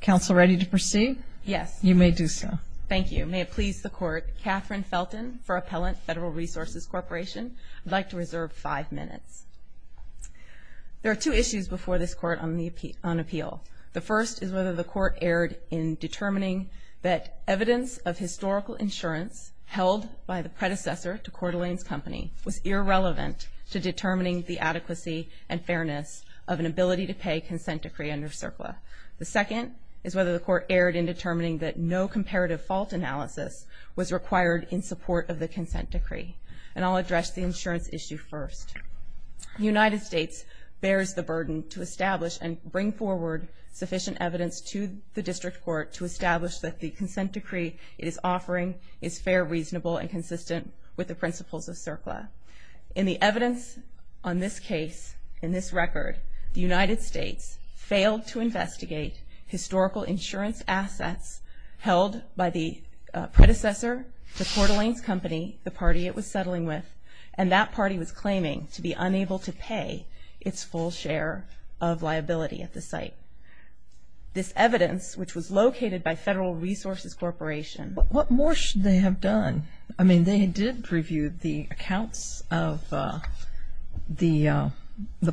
Counsel, ready to proceed? Yes. You may do so. Thank you. May it please the Court, Catherine Felton for Appellant Federal Resources Corporation. I'd like to reserve five minutes. There are two issues before this Court on appeal. The first is whether the Court erred in determining that evidence of historical insurance held by the predecessor to Coeur d'Alene's company was irrelevant to determining the adequacy and fairness of an ability-to-pay consent decree under CERCLA. The second is whether the Court erred in determining that no comparative fault analysis was required in support of the consent decree. And I'll address the insurance issue first. The United States bears the burden to establish and bring forward sufficient evidence to the District Court to establish that the consent decree it is offering is fair, reasonable, and consistent with the principles of CERCLA. In the evidence on this case, in this case, the Court failed to investigate historical insurance assets held by the predecessor to Coeur d'Alene's company, the party it was settling with, and that party was claiming to be unable to pay its full share of liability at the site. This evidence, which was located by Federal Resources Corporation. What more should they have done? I mean, they did review the accounts of the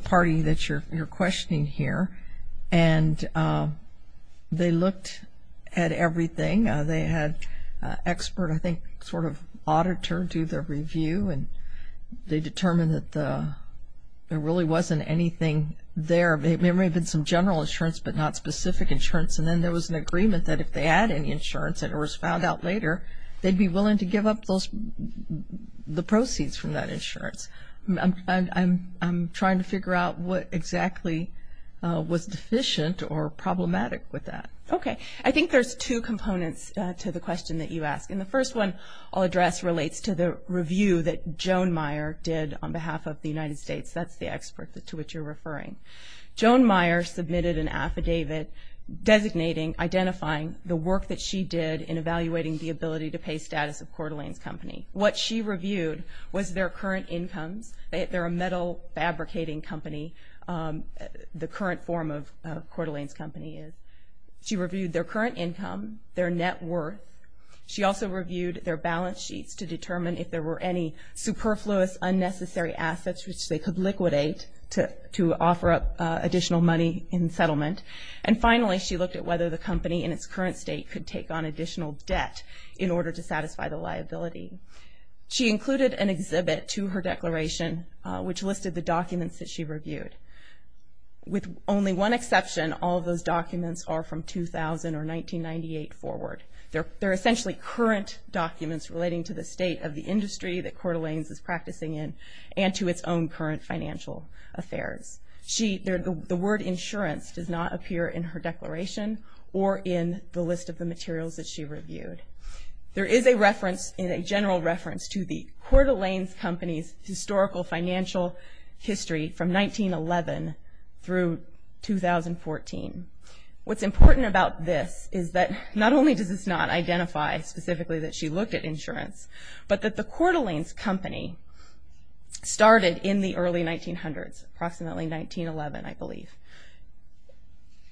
party that you're questioning here, and they looked at everything. They had an expert, I think, sort of auditor do the review, and they determined that there really wasn't anything there. There may have been some general insurance, but not specific insurance. And then there was an agreement that if they had any insurance that was found out later, they'd be willing to give up those the proceeds from that insurance. I'm trying to figure out what exactly was deficient or problematic with that. Okay, I think there's two components to the question that you ask, and the first one I'll address relates to the review that Joan Meyer did on behalf of the United States. That's the expert to which you're referring. Joan Meyer submitted an affidavit designating, identifying the work that she did in evaluating the ability to pay status of Coeur d'Alene's company. What she reviewed was their current incomes. They're a metal fabricating company, the current form of Coeur d'Alene's company is. She reviewed their current income, their net worth. She also reviewed their balance sheets to determine if there were any superfluous, unnecessary assets which they could liquidate to offer up additional money in settlement. And finally, she looked at whether the company in its current state could take on additional debt in order to satisfy the liability. She included an exhibit to her declaration which listed the documents that she reviewed. With only one exception, all those documents are from 2000 or 1998 forward. They're essentially current documents relating to the state of the industry that Coeur d'Alene's is practicing in, and to its own current financial affairs. The word insurance does not appear in her declaration or in the list of the materials that she reviewed. There is a general reference to the Coeur d'Alene's company's historical financial history from 1911 through 2014. What's important about this is that not only does this not identify specifically that she looked at insurance, but that the Coeur d'Alene's company started in the early 1900s, approximately 1911 I believe.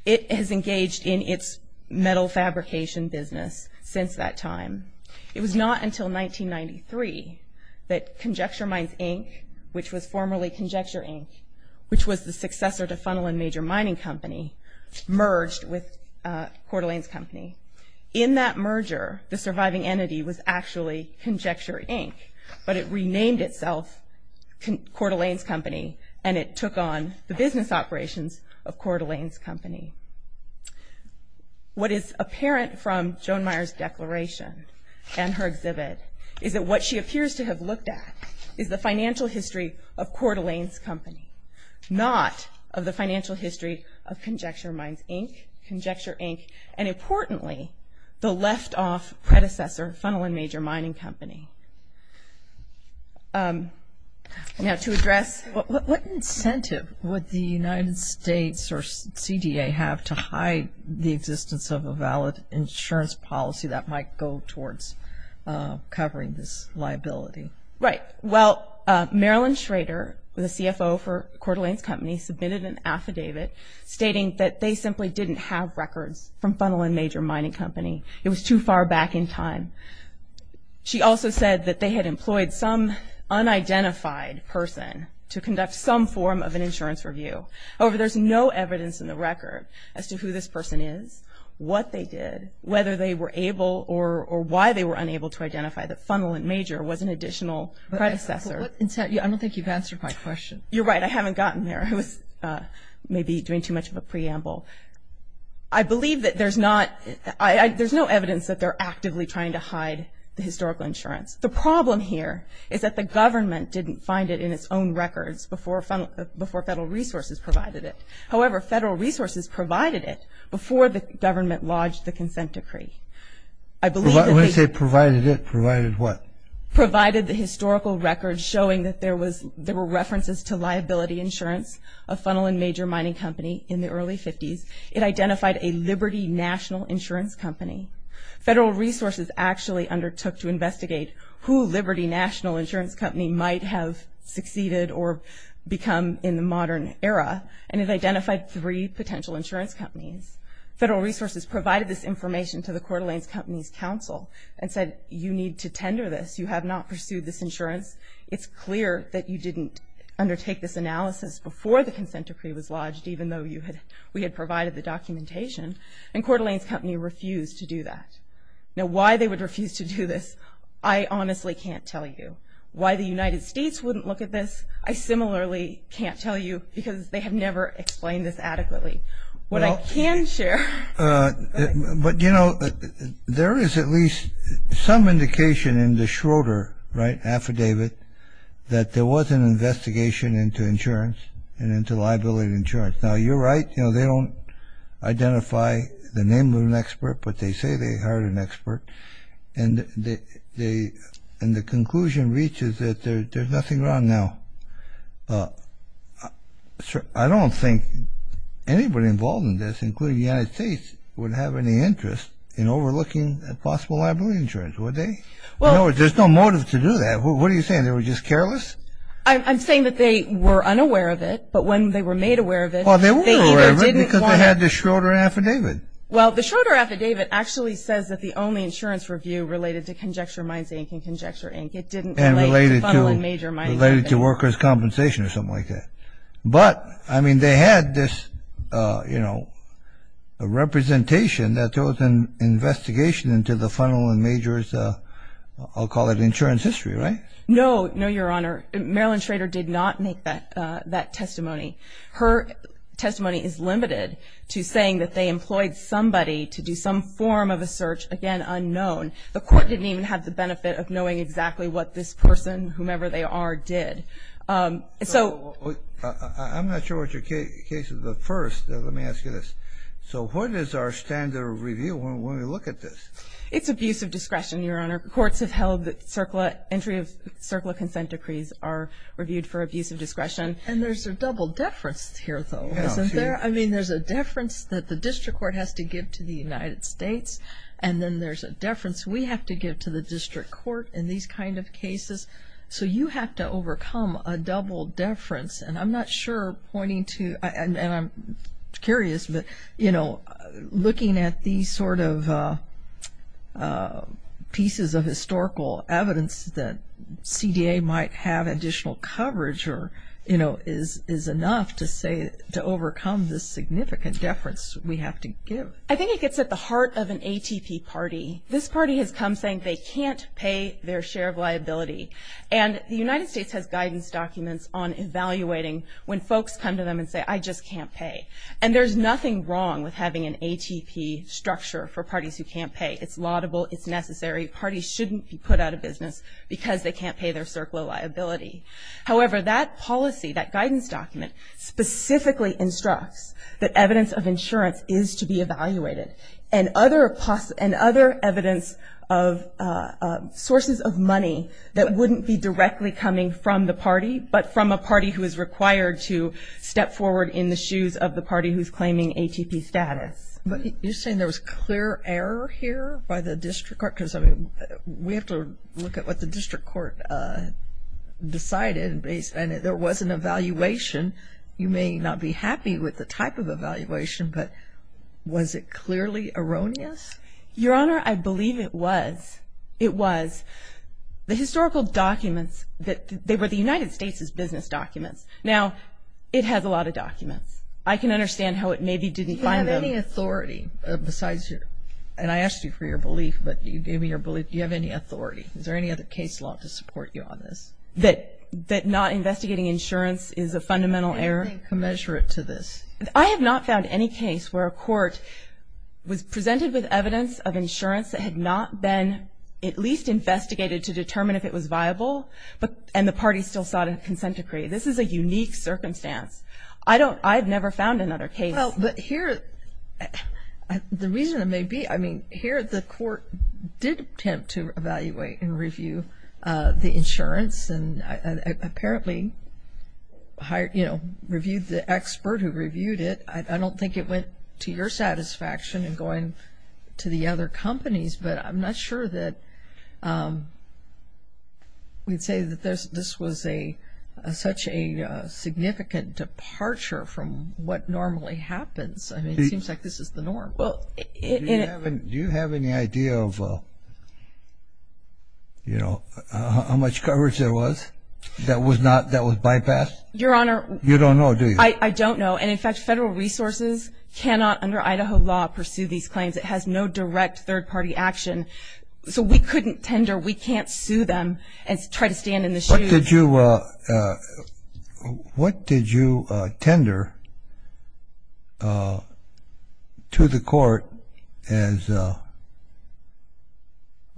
It has engaged in its metal fabrication business since that time. It was not until 1993 that Conjecture Mines Inc., which was formerly Conjecture Inc., which was the successor to Funnel and Major Mining Company, merged with Coeur d'Alene's company. In that merger, the surviving entity was actually Conjecture Inc., but it renamed itself Coeur d'Alene's company, and it took on the business operations of Coeur d'Alene's company. What is apparent from Joan Meyer's declaration and her exhibit is that what she appears to have looked at is the financial history of Coeur d'Alene's company, not of the financial history of Conjecture Mines Inc., Conjecture Inc., and importantly, the left-off predecessor, Funnel and Major Mining Company. Now, to address... What incentive would the United States or CDA have to hide the existence of a valid insurance policy that might go towards covering this liability? Right. Well, Marilyn Schrader, the CFO for Coeur d'Alene's company, submitted an affidavit stating that they simply didn't have records from Funnel and Major Mining Company. It was too far back in time. She also said that they had some form of an insurance review. However, there's no evidence in the record as to who this person is, what they did, whether they were able or why they were unable to identify that Funnel and Major was an additional predecessor. I don't think you've answered my question. You're right. I haven't gotten there. I was maybe doing too much of a preamble. I believe that there's no evidence that they're actively trying to hide the historical insurance. The problem here is that the government didn't find it in its own records before Federal Resources provided it. However, Federal Resources provided it before the government lodged the consent decree. When you say provided it, provided what? Provided the historical records showing that there were references to liability insurance of Funnel and Major Mining Company in the early 50s. It identified a Liberty National Insurance Company. Federal Resources actually undertook to become in the modern era, and it identified three potential insurance companies. Federal Resources provided this information to the Coeur d'Alene's Companies Council and said, you need to tender this. You have not pursued this insurance. It's clear that you didn't undertake this analysis before the consent decree was lodged, even though we had provided the documentation. And Coeur d'Alene's Company refused to do that. Now why they would refuse to do this, I honestly can't tell you. Why the United States wouldn't look at this, I similarly can't tell you, because they have never explained this adequately. What I can share... But, you know, there is at least some indication in the Schroeder, right, affidavit that there was an investigation into insurance and into liability insurance. Now you're right, you know, they don't identify the name of an expert, and the conclusion reaches that there's nothing wrong now. I don't think anybody involved in this, including the United States, would have any interest in overlooking possible liability insurance, would they? There's no motive to do that. What are you saying, they were just careless? I'm saying that they were unaware of it, but when they were made aware of it... Well, they were unaware of it because they had the Schroeder affidavit. Well, the Schroeder affidavit actually says that the only insurance review related to Conjecture Mines Inc. and Conjecture Inc. It didn't relate to Funnel and Major Mines. Related to workers' compensation or something like that. But, I mean, they had this, you know, representation that there was an investigation into the Funnel and Major's, I'll call it insurance history, right? No, no, Your Honor. Marilyn Schroeder did not make that testimony. Her testimony is limited to saying that they employed somebody to do some form of a search, again, unknown. The court didn't even have the benefit of knowing exactly what this person, whomever they are, did. So... I'm not sure what your case is, but first, let me ask you this. So what is our standard of review when we look at this? It's abuse of discretion, Your Honor. Courts have held that entry of CERCLA consent decrees are reviewed for abuse of discretion. And there's a double deference here, though, isn't there? I mean, there's a deference that the district court has to give to the United States, and then there's a deference we have to give to the district court in these kind of cases. So you have to overcome a double deference, and I'm not sure pointing to, and I'm curious, but, you know, looking at these sort of pieces of historical evidence that CDA might have additional coverage or, you know, is enough to say to overcome this significant deference we have to give. I think it gets at the heart of an ATP party. This party has come saying they can't pay their share of liability. And the United States has guidance documents on evaluating when folks come to them and say, I just can't pay. And there's nothing wrong with having an ATP structure for parties who can't pay. It's laudable. It's necessary. Parties shouldn't be put out of business because they can't pay their CERCLA liability. However, that policy, that guidance document, specifically instructs that evidence of insurance is to be evaluated and other evidence of sources of money that wouldn't be directly coming from the party, but from a party who is required to step forward in the shoes of the party who's claiming ATP status. You're saying there was clear error here by the district court? Because, I mean, we have to look at what the district court decided, and there was an evaluation. You may not be happy with the type of evaluation, but was it clearly erroneous? Your Honor, I believe it was. It was. The historical documents, they were the United States' business documents. Now, it has a lot of documents. I can understand how it maybe didn't find them. Do you have any authority besides your – and I asked you for your belief, but you gave me your belief. Do you have any authority? Is there any other case law to support you on this? That not investigating insurance is a fundamental error? Anything commensurate to this. I have not found any case where a court was presented with evidence of insurance that had not been at least investigated to determine if it was viable, and the party still sought a consent decree. This is a unique circumstance. I don't – I've never found another case. Well, but here – the reason it may be – I mean, here the court did attempt to evaluate and review the insurance, and apparently, you know, reviewed the expert who reviewed it. I don't think it went to your satisfaction in going to the other companies, but I'm not sure that we'd say that this was such a significant departure from what normally happens. I mean, it seems like this is the norm. Do you have any idea of, you know, how much coverage there was that was bypassed? Your Honor – You don't know, do you? I don't know, and in fact, federal resources cannot, under Idaho law, pursue these claims. It has no direct third-party action. So we couldn't tender – we can't sue them and try to stand in the shoes. What did you – what did you tender to the court as,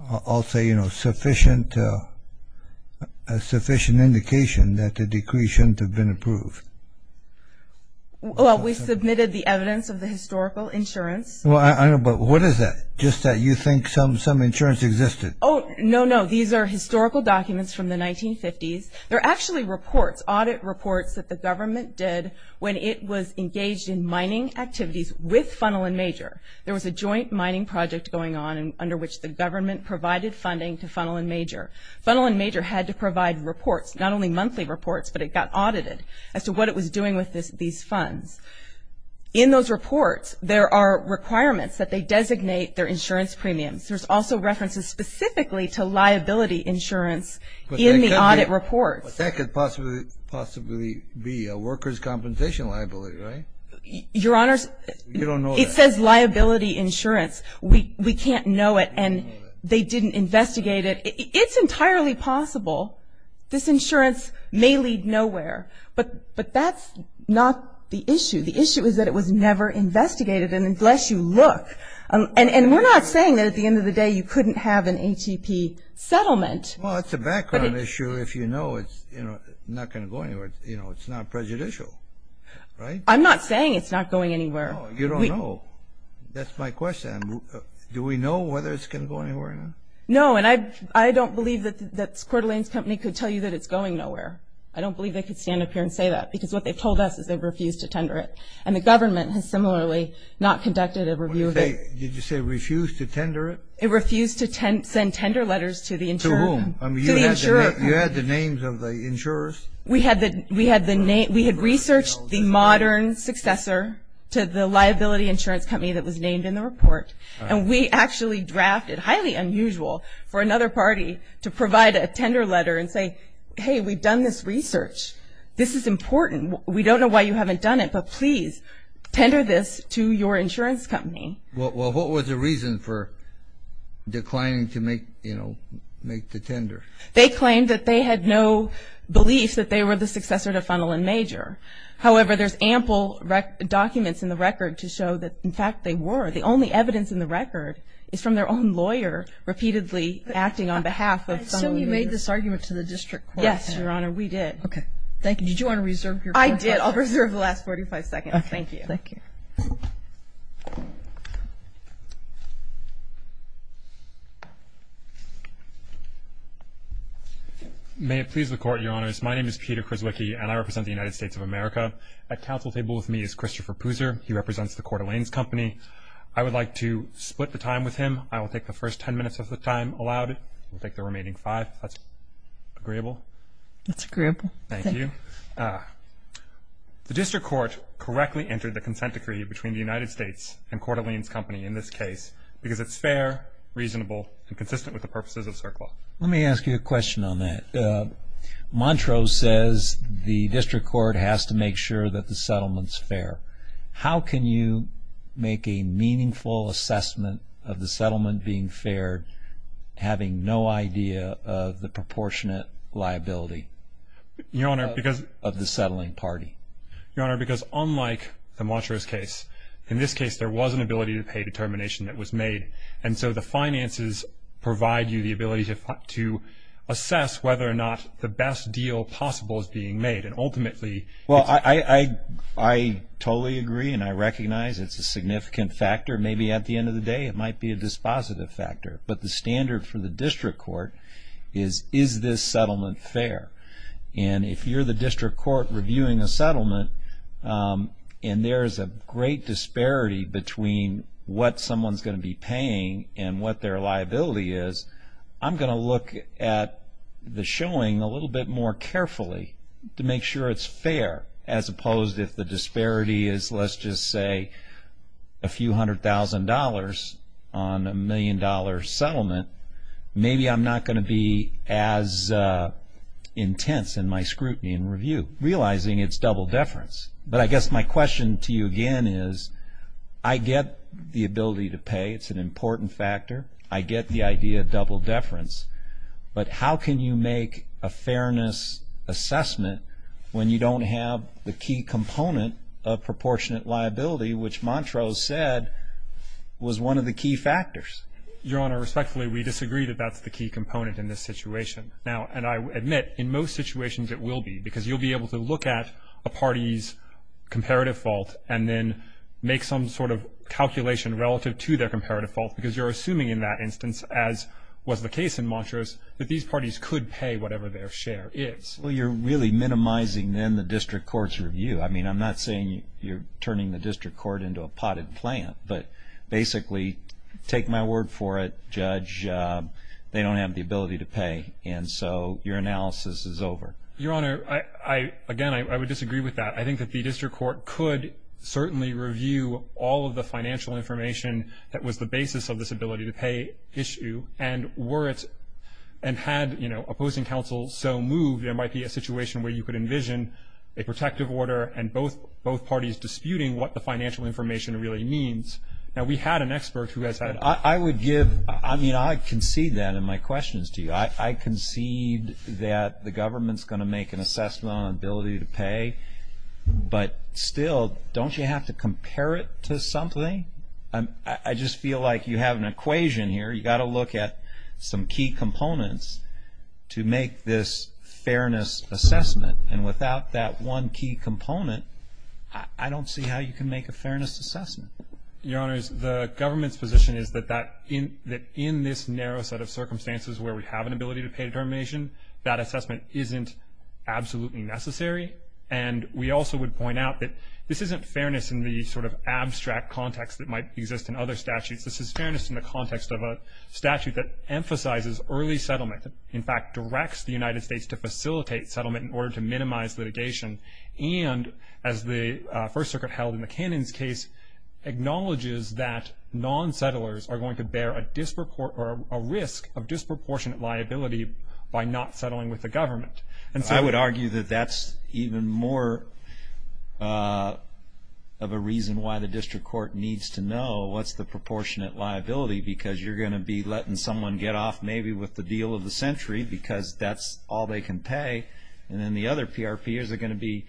I'll say, you know, sufficient indication that the decree shouldn't have been approved? Well, we submitted the evidence of the historical insurance. Well, I know, but what is that, just that you think some insurance existed? Oh, no, no. These are historical documents from the 1950s. They're actually reports, audit reports that the government did when it was engaged in mining activities with Funnel & Major. There was a joint mining project going on under which the government provided funding to Funnel & Major. Funnel & Major had to provide reports, not only monthly reports, but it got audited as to what it was doing with these funds. In those reports, there are requirements that they designate their insurance premiums. There's also references specifically to liability insurance in the audit reports. But that could possibly be a workers' compensation liability, right? Your Honors, it says liability insurance. We can't know it, and they didn't investigate it. It's entirely possible this insurance may lead nowhere, but that's not the issue. The issue is that it was never investigated, unless you look. And we're not saying that at the end of the day you couldn't have an ATP settlement. Well, it's a background issue. If you know it's not going to go anywhere, you know, it's not prejudicial, right? I'm not saying it's not going anywhere. No, you don't know. That's my question. Do we know whether it's going to go anywhere or not? No, and I don't believe that Coeur d'Alene's company could tell you that it's going nowhere. I don't believe they could stand up here and say that, because what they've told us is they've refused to tender it. And the government has similarly not conducted a review of it. Did you say refused to tender it? It refused to send tender letters to the insurer. To whom? To the insurer. You had the names of the insurers? We had the name. We had researched the modern successor to the liability insurance company that was named in the report. And we actually drafted, highly unusual, for another party to provide a tender letter and say, hey, we've done this research. This is important. We don't know why you haven't done it, but please tender this to your insurance company. Well, what was the reason for declining to make, you know, make the tender? They claimed that they had no belief that they were the successor to Funnel and Major. However, there's ample documents in the record to show that, in fact, they were. The only evidence in the record is from their own lawyer repeatedly acting on behalf of Funnel and Major. So you made this argument to the district court? Yes, Your Honor, we did. Okay. Thank you. Did you want to reserve your time? I did. I'll reserve the last 45 seconds. Thank you. Thank you. May it please the Court, Your Honors. My name is Peter Krzwicki, and I represent the United States of America. At counsel table with me is Christopher Puser. He represents the Coeur d'Alene's company. I would like to split the time with him. I will take the first 10 minutes of the time allowed. We'll take the remaining five if that's agreeable. That's agreeable. Thank you. The district court correctly entered the consent decree between the United States and Coeur d'Alene's company in this case because it's fair, reasonable, and consistent with the purposes of CERC law. Let me ask you a question on that. Montreux says the district court has to make sure that the settlement's fair. How can you make a meaningful assessment of the settlement being fair, having no idea of the proportionate liability of the settling party? Your Honor, because unlike the Montreux case, in this case there was an ability to pay determination that was made, and so the finances provide you the ability to assess whether or not the best deal possible is being made. I totally agree, and I recognize it's a significant factor. Maybe at the end of the day it might be a dispositive factor. But the standard for the district court is, is this settlement fair? If you're the district court reviewing a settlement and there's a great disparity between what someone's going to be paying and what their liability is, I'm going to look at the showing a little bit more carefully to make sure it's fair, as opposed if the disparity is, let's just say, a few hundred thousand dollars on a million-dollar settlement, maybe I'm not going to be as intense in my scrutiny and review, realizing it's double deference. But I guess my question to you again is, I get the ability to pay. It's an important factor. I get the idea of double deference. But how can you make a fairness assessment when you don't have the key component of proportionate liability, which Montrose said was one of the key factors? Your Honor, respectfully, we disagree that that's the key component in this situation. Now, and I admit, in most situations it will be, because you'll be able to look at a party's comparative fault and then make some sort of calculation relative to their comparative fault, because you're assuming in that instance, as was the case in Montrose, that these parties could pay whatever their share is. Well, you're really minimizing then the district court's review. I mean, I'm not saying you're turning the district court into a potted plant, but basically, take my word for it, Judge, they don't have the ability to pay. And so your analysis is over. Your Honor, again, I would disagree with that. I think that the district court could certainly review all of the financial information that was the basis of this ability to pay issue, and were it and had, you know, opposing counsel so moved, there might be a situation where you could envision a protective order and both parties disputing what the financial information really means. Now, we had an expert who has had. I would give, I mean, I concede that in my questions to you. I concede that the government's going to make an assessment on ability to pay, but still, don't you have to compare it to something? I just feel like you have an equation here. You've got to look at some key components to make this fairness assessment, and without that one key component, I don't see how you can make a fairness assessment. Your Honors, the government's position is that in this narrow set of circumstances where we have an ability to pay determination, that assessment isn't absolutely necessary, and we also would point out that this isn't fairness in the sort of abstract context that might exist in other statutes. This is fairness in the context of a statute that emphasizes early settlement, in fact, directs the United States to facilitate settlement in order to minimize litigation, and as the First Circuit held in the Cannons case, acknowledges that non-settlers are going to bear a risk of disproportionate liability by not settling with the government. I would argue that that's even more of a reason why the district court needs to know what's the proportionate liability, because you're going to be letting someone get off maybe with the deal of the century because that's all they can pay, and then the other PRPers are going to be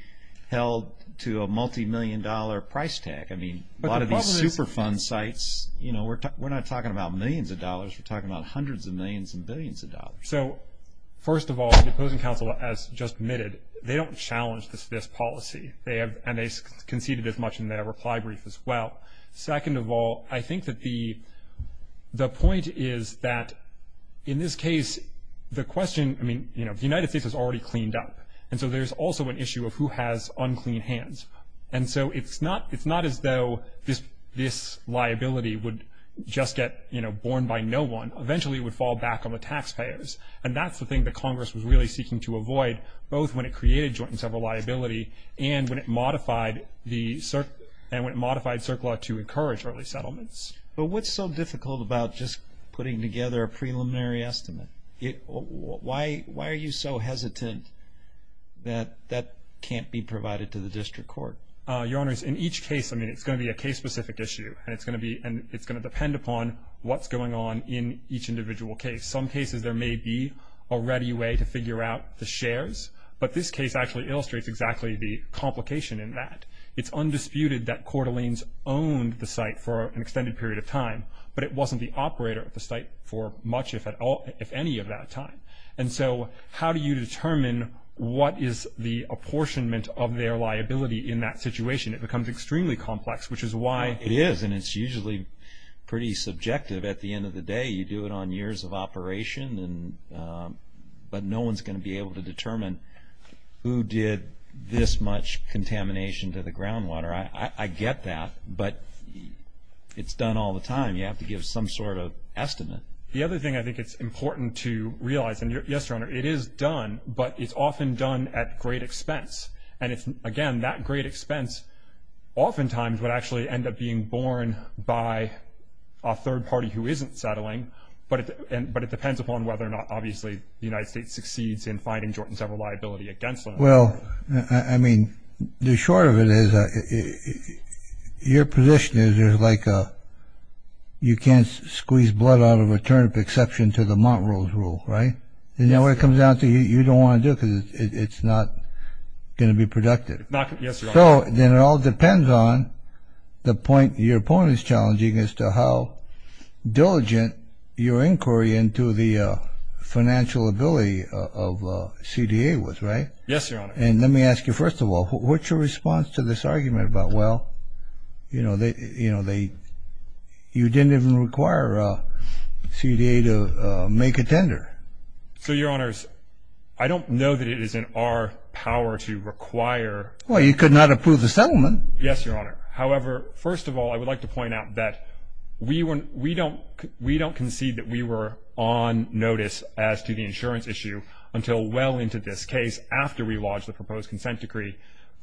held to a multimillion-dollar price tag. A lot of these Superfund sites, we're not talking about millions of dollars, we're talking about hundreds of millions and billions of dollars. So, first of all, the opposing counsel has just admitted they don't challenge this policy, and they conceded as much in their reply brief as well. Second of all, I think that the point is that in this case the question, I mean, you know, the United States has already cleaned up, and so there's also an issue of who has unclean hands, and so it's not as though this liability would just get, you know, borne by no one. Eventually it would fall back on the taxpayers, and that's the thing that Congress was really seeking to avoid, both when it created joint and several liability, and when it modified CERC law to encourage early settlements. But what's so difficult about just putting together a preliminary estimate? Why are you so hesitant that that can't be provided to the district court? Your Honors, in each case, I mean, it's going to be a case-specific issue, and it's going to depend upon what's going on in each individual case. Some cases there may be a ready way to figure out the shares, but this case actually illustrates exactly the complication in that. It's undisputed that Coeur d'Alene's owned the site for an extended period of time, but it wasn't the operator of the site for much, if any, of that time. And so how do you determine what is the apportionment of their liability in that situation? It becomes extremely complex, which is why... It is, and it's usually pretty subjective at the end of the day. You do it on years of operation, but no one's going to be able to determine who did this much contamination to the groundwater. I get that, but it's done all the time. You have to give some sort of estimate. The other thing I think it's important to realize, and yes, Your Honor, it is done, but it's often done at great expense. And again, that great expense oftentimes would actually end up being borne by a third party who isn't settling, but it depends upon whether or not, obviously, the United States succeeds in finding Jordan several liability against them. Well, I mean, the short of it is your position is there's like a... You can't squeeze blood out of a turnip, exception to the Montrose rule, right? And when it comes down to it, you don't want to do it because it's not going to be productive. Yes, Your Honor. So then it all depends on the point your opponent is challenging as to how diligent your inquiry into the financial ability of CDA was, right? Yes, Your Honor. And let me ask you, first of all, what's your response to this argument about, well, you didn't even require CDA to make a tender? So, Your Honors, I don't know that it is in our power to require... Well, you could not approve the settlement. Yes, Your Honor. However, first of all, I would like to point out that we don't concede that we were on notice as to the insurance issue until well into this case after we lodged the proposed consent decree.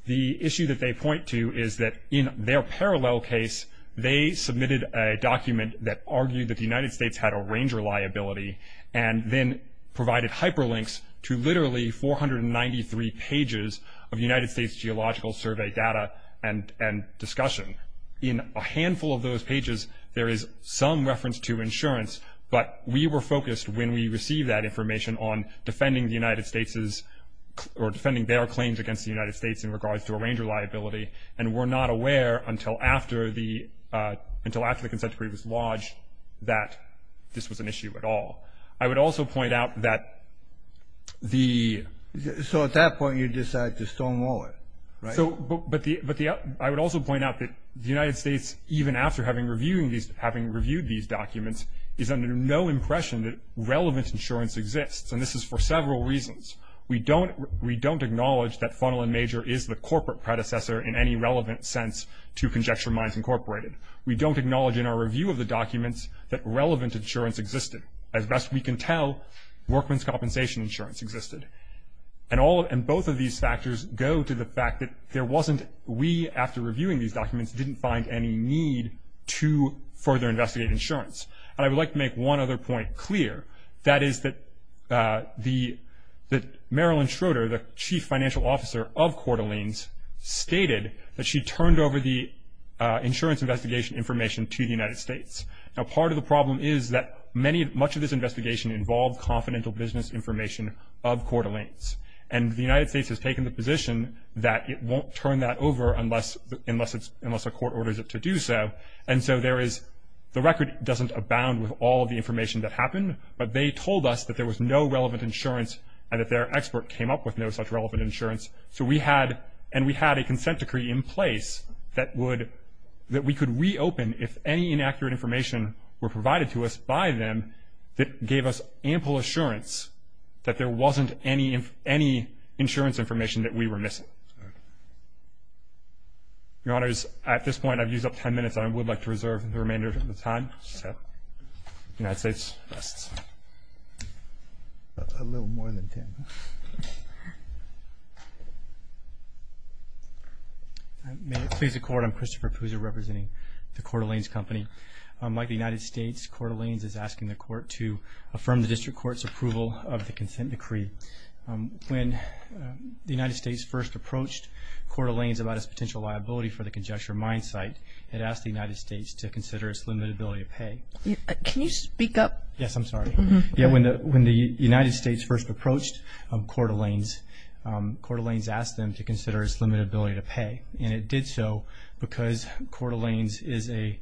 The issue that they point to is that in their parallel case, they submitted a document that argued that the United States had a ranger liability and then provided hyperlinks to literally 493 pages of United States geological survey data and discussion. In a handful of those pages, there is some reference to insurance, but we were focused when we received that information on defending the United States's... in regards to a ranger liability, and were not aware until after the consent decree was lodged that this was an issue at all. I would also point out that the... So at that point, you decided to stonewall it, right? But I would also point out that the United States, even after having reviewed these documents, is under no impression that relevant insurance exists, and this is for several reasons. We don't acknowledge that Funnel & Major is the corporate predecessor in any relevant sense to Conjecture Minds Incorporated. We don't acknowledge in our review of the documents that relevant insurance existed. As best we can tell, workman's compensation insurance existed. And both of these factors go to the fact that there wasn't... we, after reviewing these documents, didn't find any need to further investigate insurance. And I would like to make one other point clear. That is that Marilyn Schroeder, the chief financial officer of Coeur d'Alene's, stated that she turned over the insurance investigation information to the United States. Now, part of the problem is that much of this investigation involved confidential business information of Coeur d'Alene's, and the United States has taken the position that it won't turn that over unless a court orders it to do so. And so there is... the record doesn't abound with all of the information that happened, but they told us that there was no relevant insurance and that their expert came up with no such relevant insurance. So we had... and we had a consent decree in place that would... that we could reopen if any inaccurate information were provided to us by them that gave us ample assurance that there wasn't any insurance information that we were missing. Your Honors, at this point I've used up 10 minutes, and I would like to reserve the remainder of the time. The United States rests. A little more than 10. May it please the Court, I'm Christopher Pouza representing the Coeur d'Alene's Company. Like the United States, Coeur d'Alene's is asking the Court to affirm the District Court's approval of the consent decree. When the United States first approached Coeur d'Alene's about its potential liability for the conjecture mine site, it asked the United States to consider its limitability of pay. Can you speak up? Yes, I'm sorry. When the United States first approached Coeur d'Alene's, Coeur d'Alene's asked them to consider its limitability to pay, and it did so because Coeur d'Alene's is a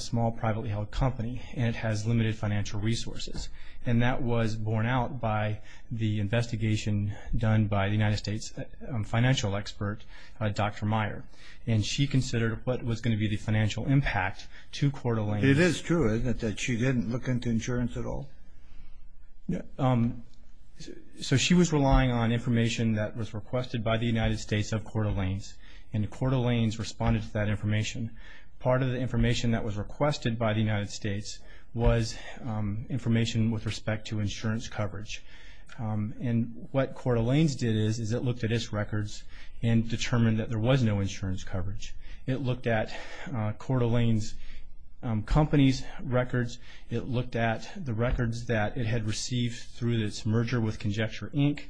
small, privately held company, and it has limited financial resources. And that was borne out by the investigation done by the United States financial expert, Dr. Meyer. And she considered what was going to be the financial impact to Coeur d'Alene's. It is true, isn't it, that she didn't look into insurance at all? So she was relying on information that was requested by the United States of Coeur d'Alene's, and Coeur d'Alene's responded to that information. Part of the information that was requested by the United States was information with respect to insurance coverage. And what Coeur d'Alene's did is it looked at its records and determined that there was no insurance coverage. It looked at Coeur d'Alene's company's records. It looked at the records that it had received through its merger with Conjecture, Inc.,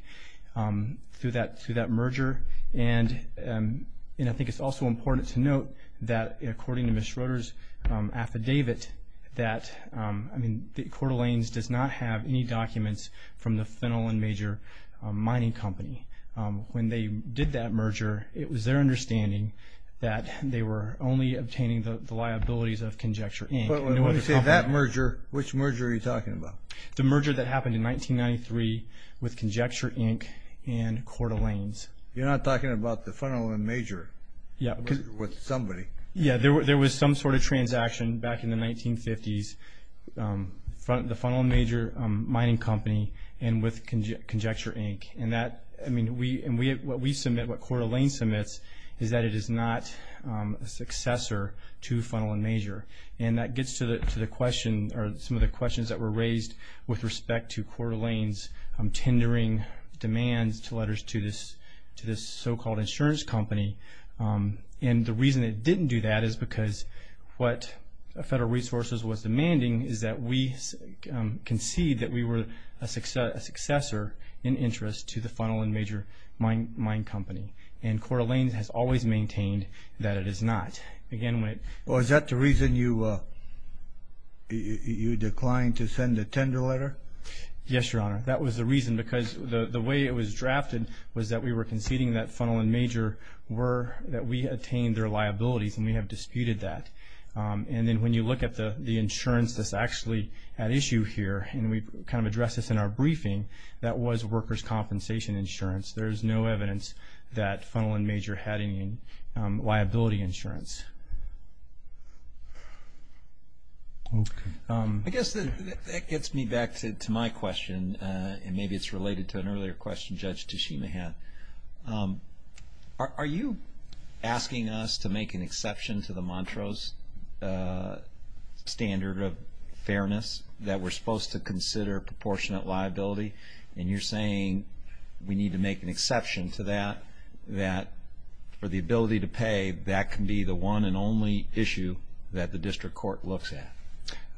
through that merger. And I think it's also important to note that, according to Ms. Schroeder's affidavit, that Coeur d'Alene's does not have any documents from the Fennell & Major mining company. When they did that merger, it was their understanding that they were only obtaining the liabilities of Conjecture, Inc. But when you say that merger, which merger are you talking about? The merger that happened in 1993 with Conjecture, Inc. and Coeur d'Alene's. You're not talking about the Fennell & Major merger with somebody. Yeah, there was some sort of transaction back in the 1950s, the Fennell & Major mining company and with Conjecture, Inc. And what we submit, what Coeur d'Alene submits, is that it is not a successor to Fennell & Major. And that gets to the question or some of the questions that were raised with respect to Coeur d'Alene's tendering demands to letters to this so-called insurance company. And the reason it didn't do that is because what Federal Resources was demanding is that we concede that we were a successor in interest to the Fennell & Major mining company. And Coeur d'Alene has always maintained that it is not. Well, is that the reason you declined to send a tender letter? Yes, Your Honor. That was the reason. Because the way it was drafted was that we were conceding that Fennell & Major were, that we attained their liabilities, and we have disputed that. And then when you look at the insurance that's actually at issue here, and we kind of addressed this in our briefing, that was workers' compensation insurance. There's no evidence that Fennell & Major had any liability insurance. Okay. I guess that gets me back to my question, and maybe it's related to an earlier question Judge Tashima had. Are you asking us to make an exception to the Montrose standard of fairness that we're supposed to consider proportionate liability? And you're saying we need to make an exception to that, that for the ability to pay, that can be the one and only issue that the district court looks at.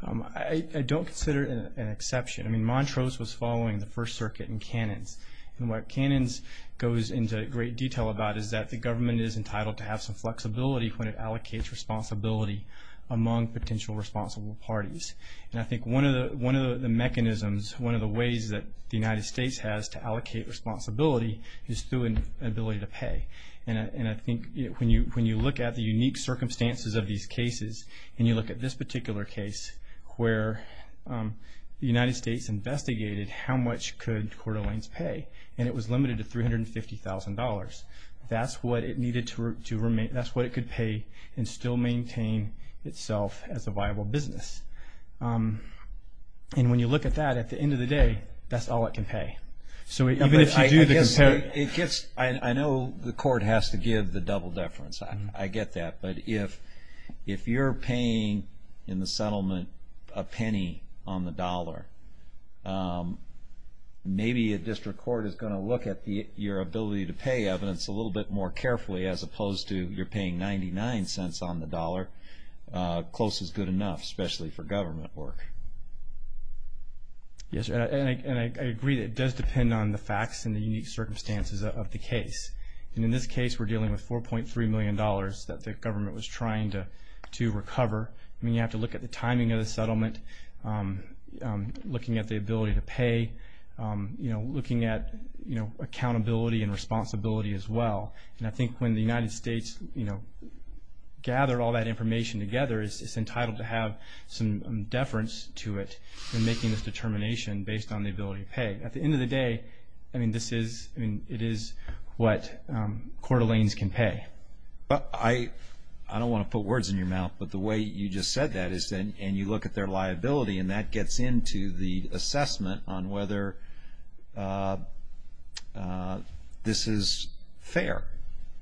I don't consider it an exception. I mean, Montrose was following the First Circuit and Cannons. And what Cannons goes into great detail about is that the government is entitled to have some flexibility when it allocates responsibility among potential responsible parties. And I think one of the mechanisms, one of the ways that the United States has to allocate responsibility is through an ability to pay. And I think when you look at the unique circumstances of these cases, and you look at this particular case where the United States investigated how much could Coeur d'Alene's pay, and it was limited to $350,000. That's what it could pay and still maintain itself as a viable business. And when you look at that, at the end of the day, that's all it can pay. Even if you do the comparison. I know the court has to give the double deference. I get that. But if you're paying in the settlement a penny on the dollar, maybe a district court is going to look at your ability to pay evidence a little bit more carefully as opposed to you're paying 99 cents on the dollar. Close is good enough, especially for government work. Yes, and I agree that it does depend on the facts and the unique circumstances of the case. And in this case, we're dealing with $4.3 million that the government was trying to recover. I mean, you have to look at the timing of the settlement, looking at the ability to pay, looking at accountability and responsibility as well. And I think when the United States gathered all that information together, it's entitled to have some deference to it in making this determination based on the ability to pay. At the end of the day, I mean, it is what Coeur d'Alene's can pay. I don't want to put words in your mouth, but the way you just said that, and you look at their liability and that gets into the assessment on whether this is fair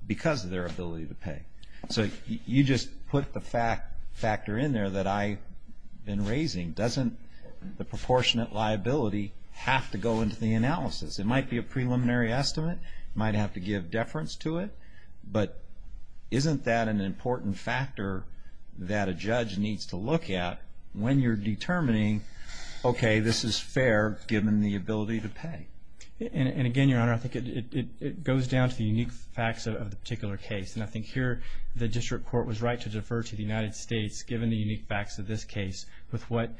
because of their ability to pay. So you just put the factor in there that I've been raising. Doesn't the proportionate liability have to go into the analysis? It might be a preliminary estimate. It might have to give deference to it. But isn't that an important factor that a judge needs to look at when you're determining, okay, this is fair given the ability to pay? And again, Your Honor, I think it goes down to the unique facts of the particular case. And I think here the district court was right to defer to the United States given the unique facts of this case with what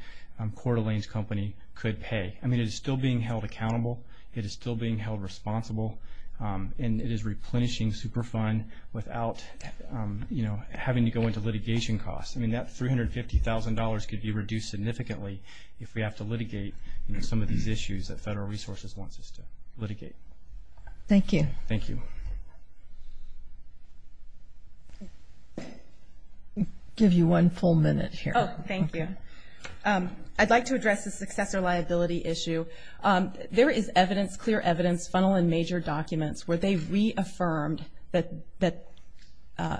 Coeur d'Alene's company could pay. I mean, it is still being held accountable. It is still being held responsible. And it is replenishing Superfund without, you know, having to go into litigation costs. I mean, that $350,000 could be reduced significantly if we have to litigate, you know, some of these issues that Federal Resources wants us to litigate. Thank you. Thank you. I'll give you one full minute here. Oh, thank you. I'd like to address the successor liability issue. There is evidence, clear evidence, funnel and major documents, where they reaffirmed that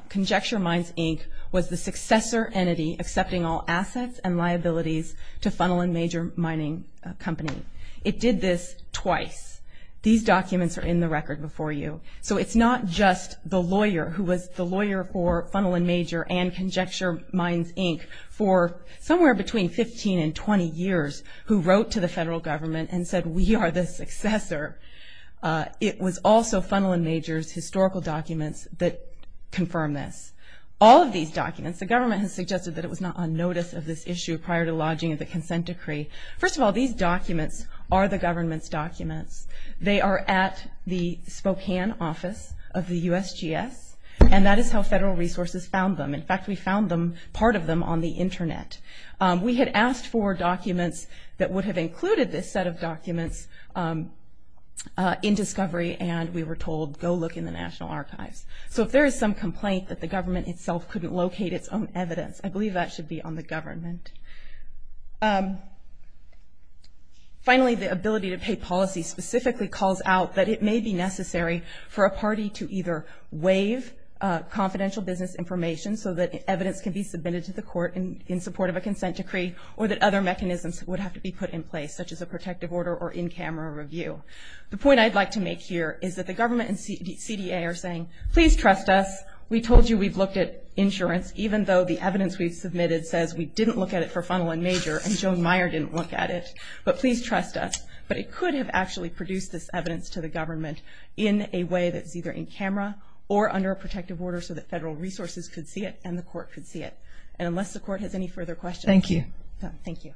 Conjecture Mines, Inc. was the successor entity accepting all assets and liabilities to funnel and major mining company. It did this twice. These documents are in the record before you. So it's not just the lawyer who was the lawyer for funnel and major and Conjecture Mines, Inc. for somewhere between 15 and 20 years who wrote to the Federal Government and said we are the successor. It was also funnel and major's historical documents that confirmed this. All of these documents, the government has suggested that it was not on notice of this issue prior to lodging of the consent decree. First of all, these documents are the government's documents. They are at the Spokane office of the USGS, and that is how Federal Resources found them. In fact, we found part of them on the Internet. We had asked for documents that would have included this set of documents in discovery, and we were told go look in the National Archives. So if there is some complaint that the government itself couldn't locate its own evidence, I believe that should be on the government. Finally, the ability to pay policy specifically calls out that it may be necessary for a party to either waive confidential business information so that evidence can be submitted to the court in support of a consent decree or that other mechanisms would have to be put in place, such as a protective order or in-camera review. The point I'd like to make here is that the government and CDA are saying, please trust us. We told you we've looked at insurance, even though the evidence we've submitted says we didn't look at it for funnel and major and Joan Meyer didn't look at it, but please trust us. But it could have actually produced this evidence to the government in a way that's either in-camera or under a protective order so that Federal Resources could see it and the court could see it. And unless the court has any further questions. Thank you. Thank you.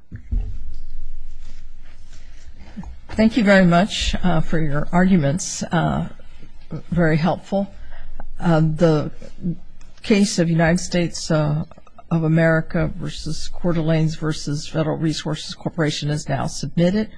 Thank you very much for your arguments, very helpful. The case of United States of America versus Coeur d'Alene versus Federal Resources Corporation is now submitted.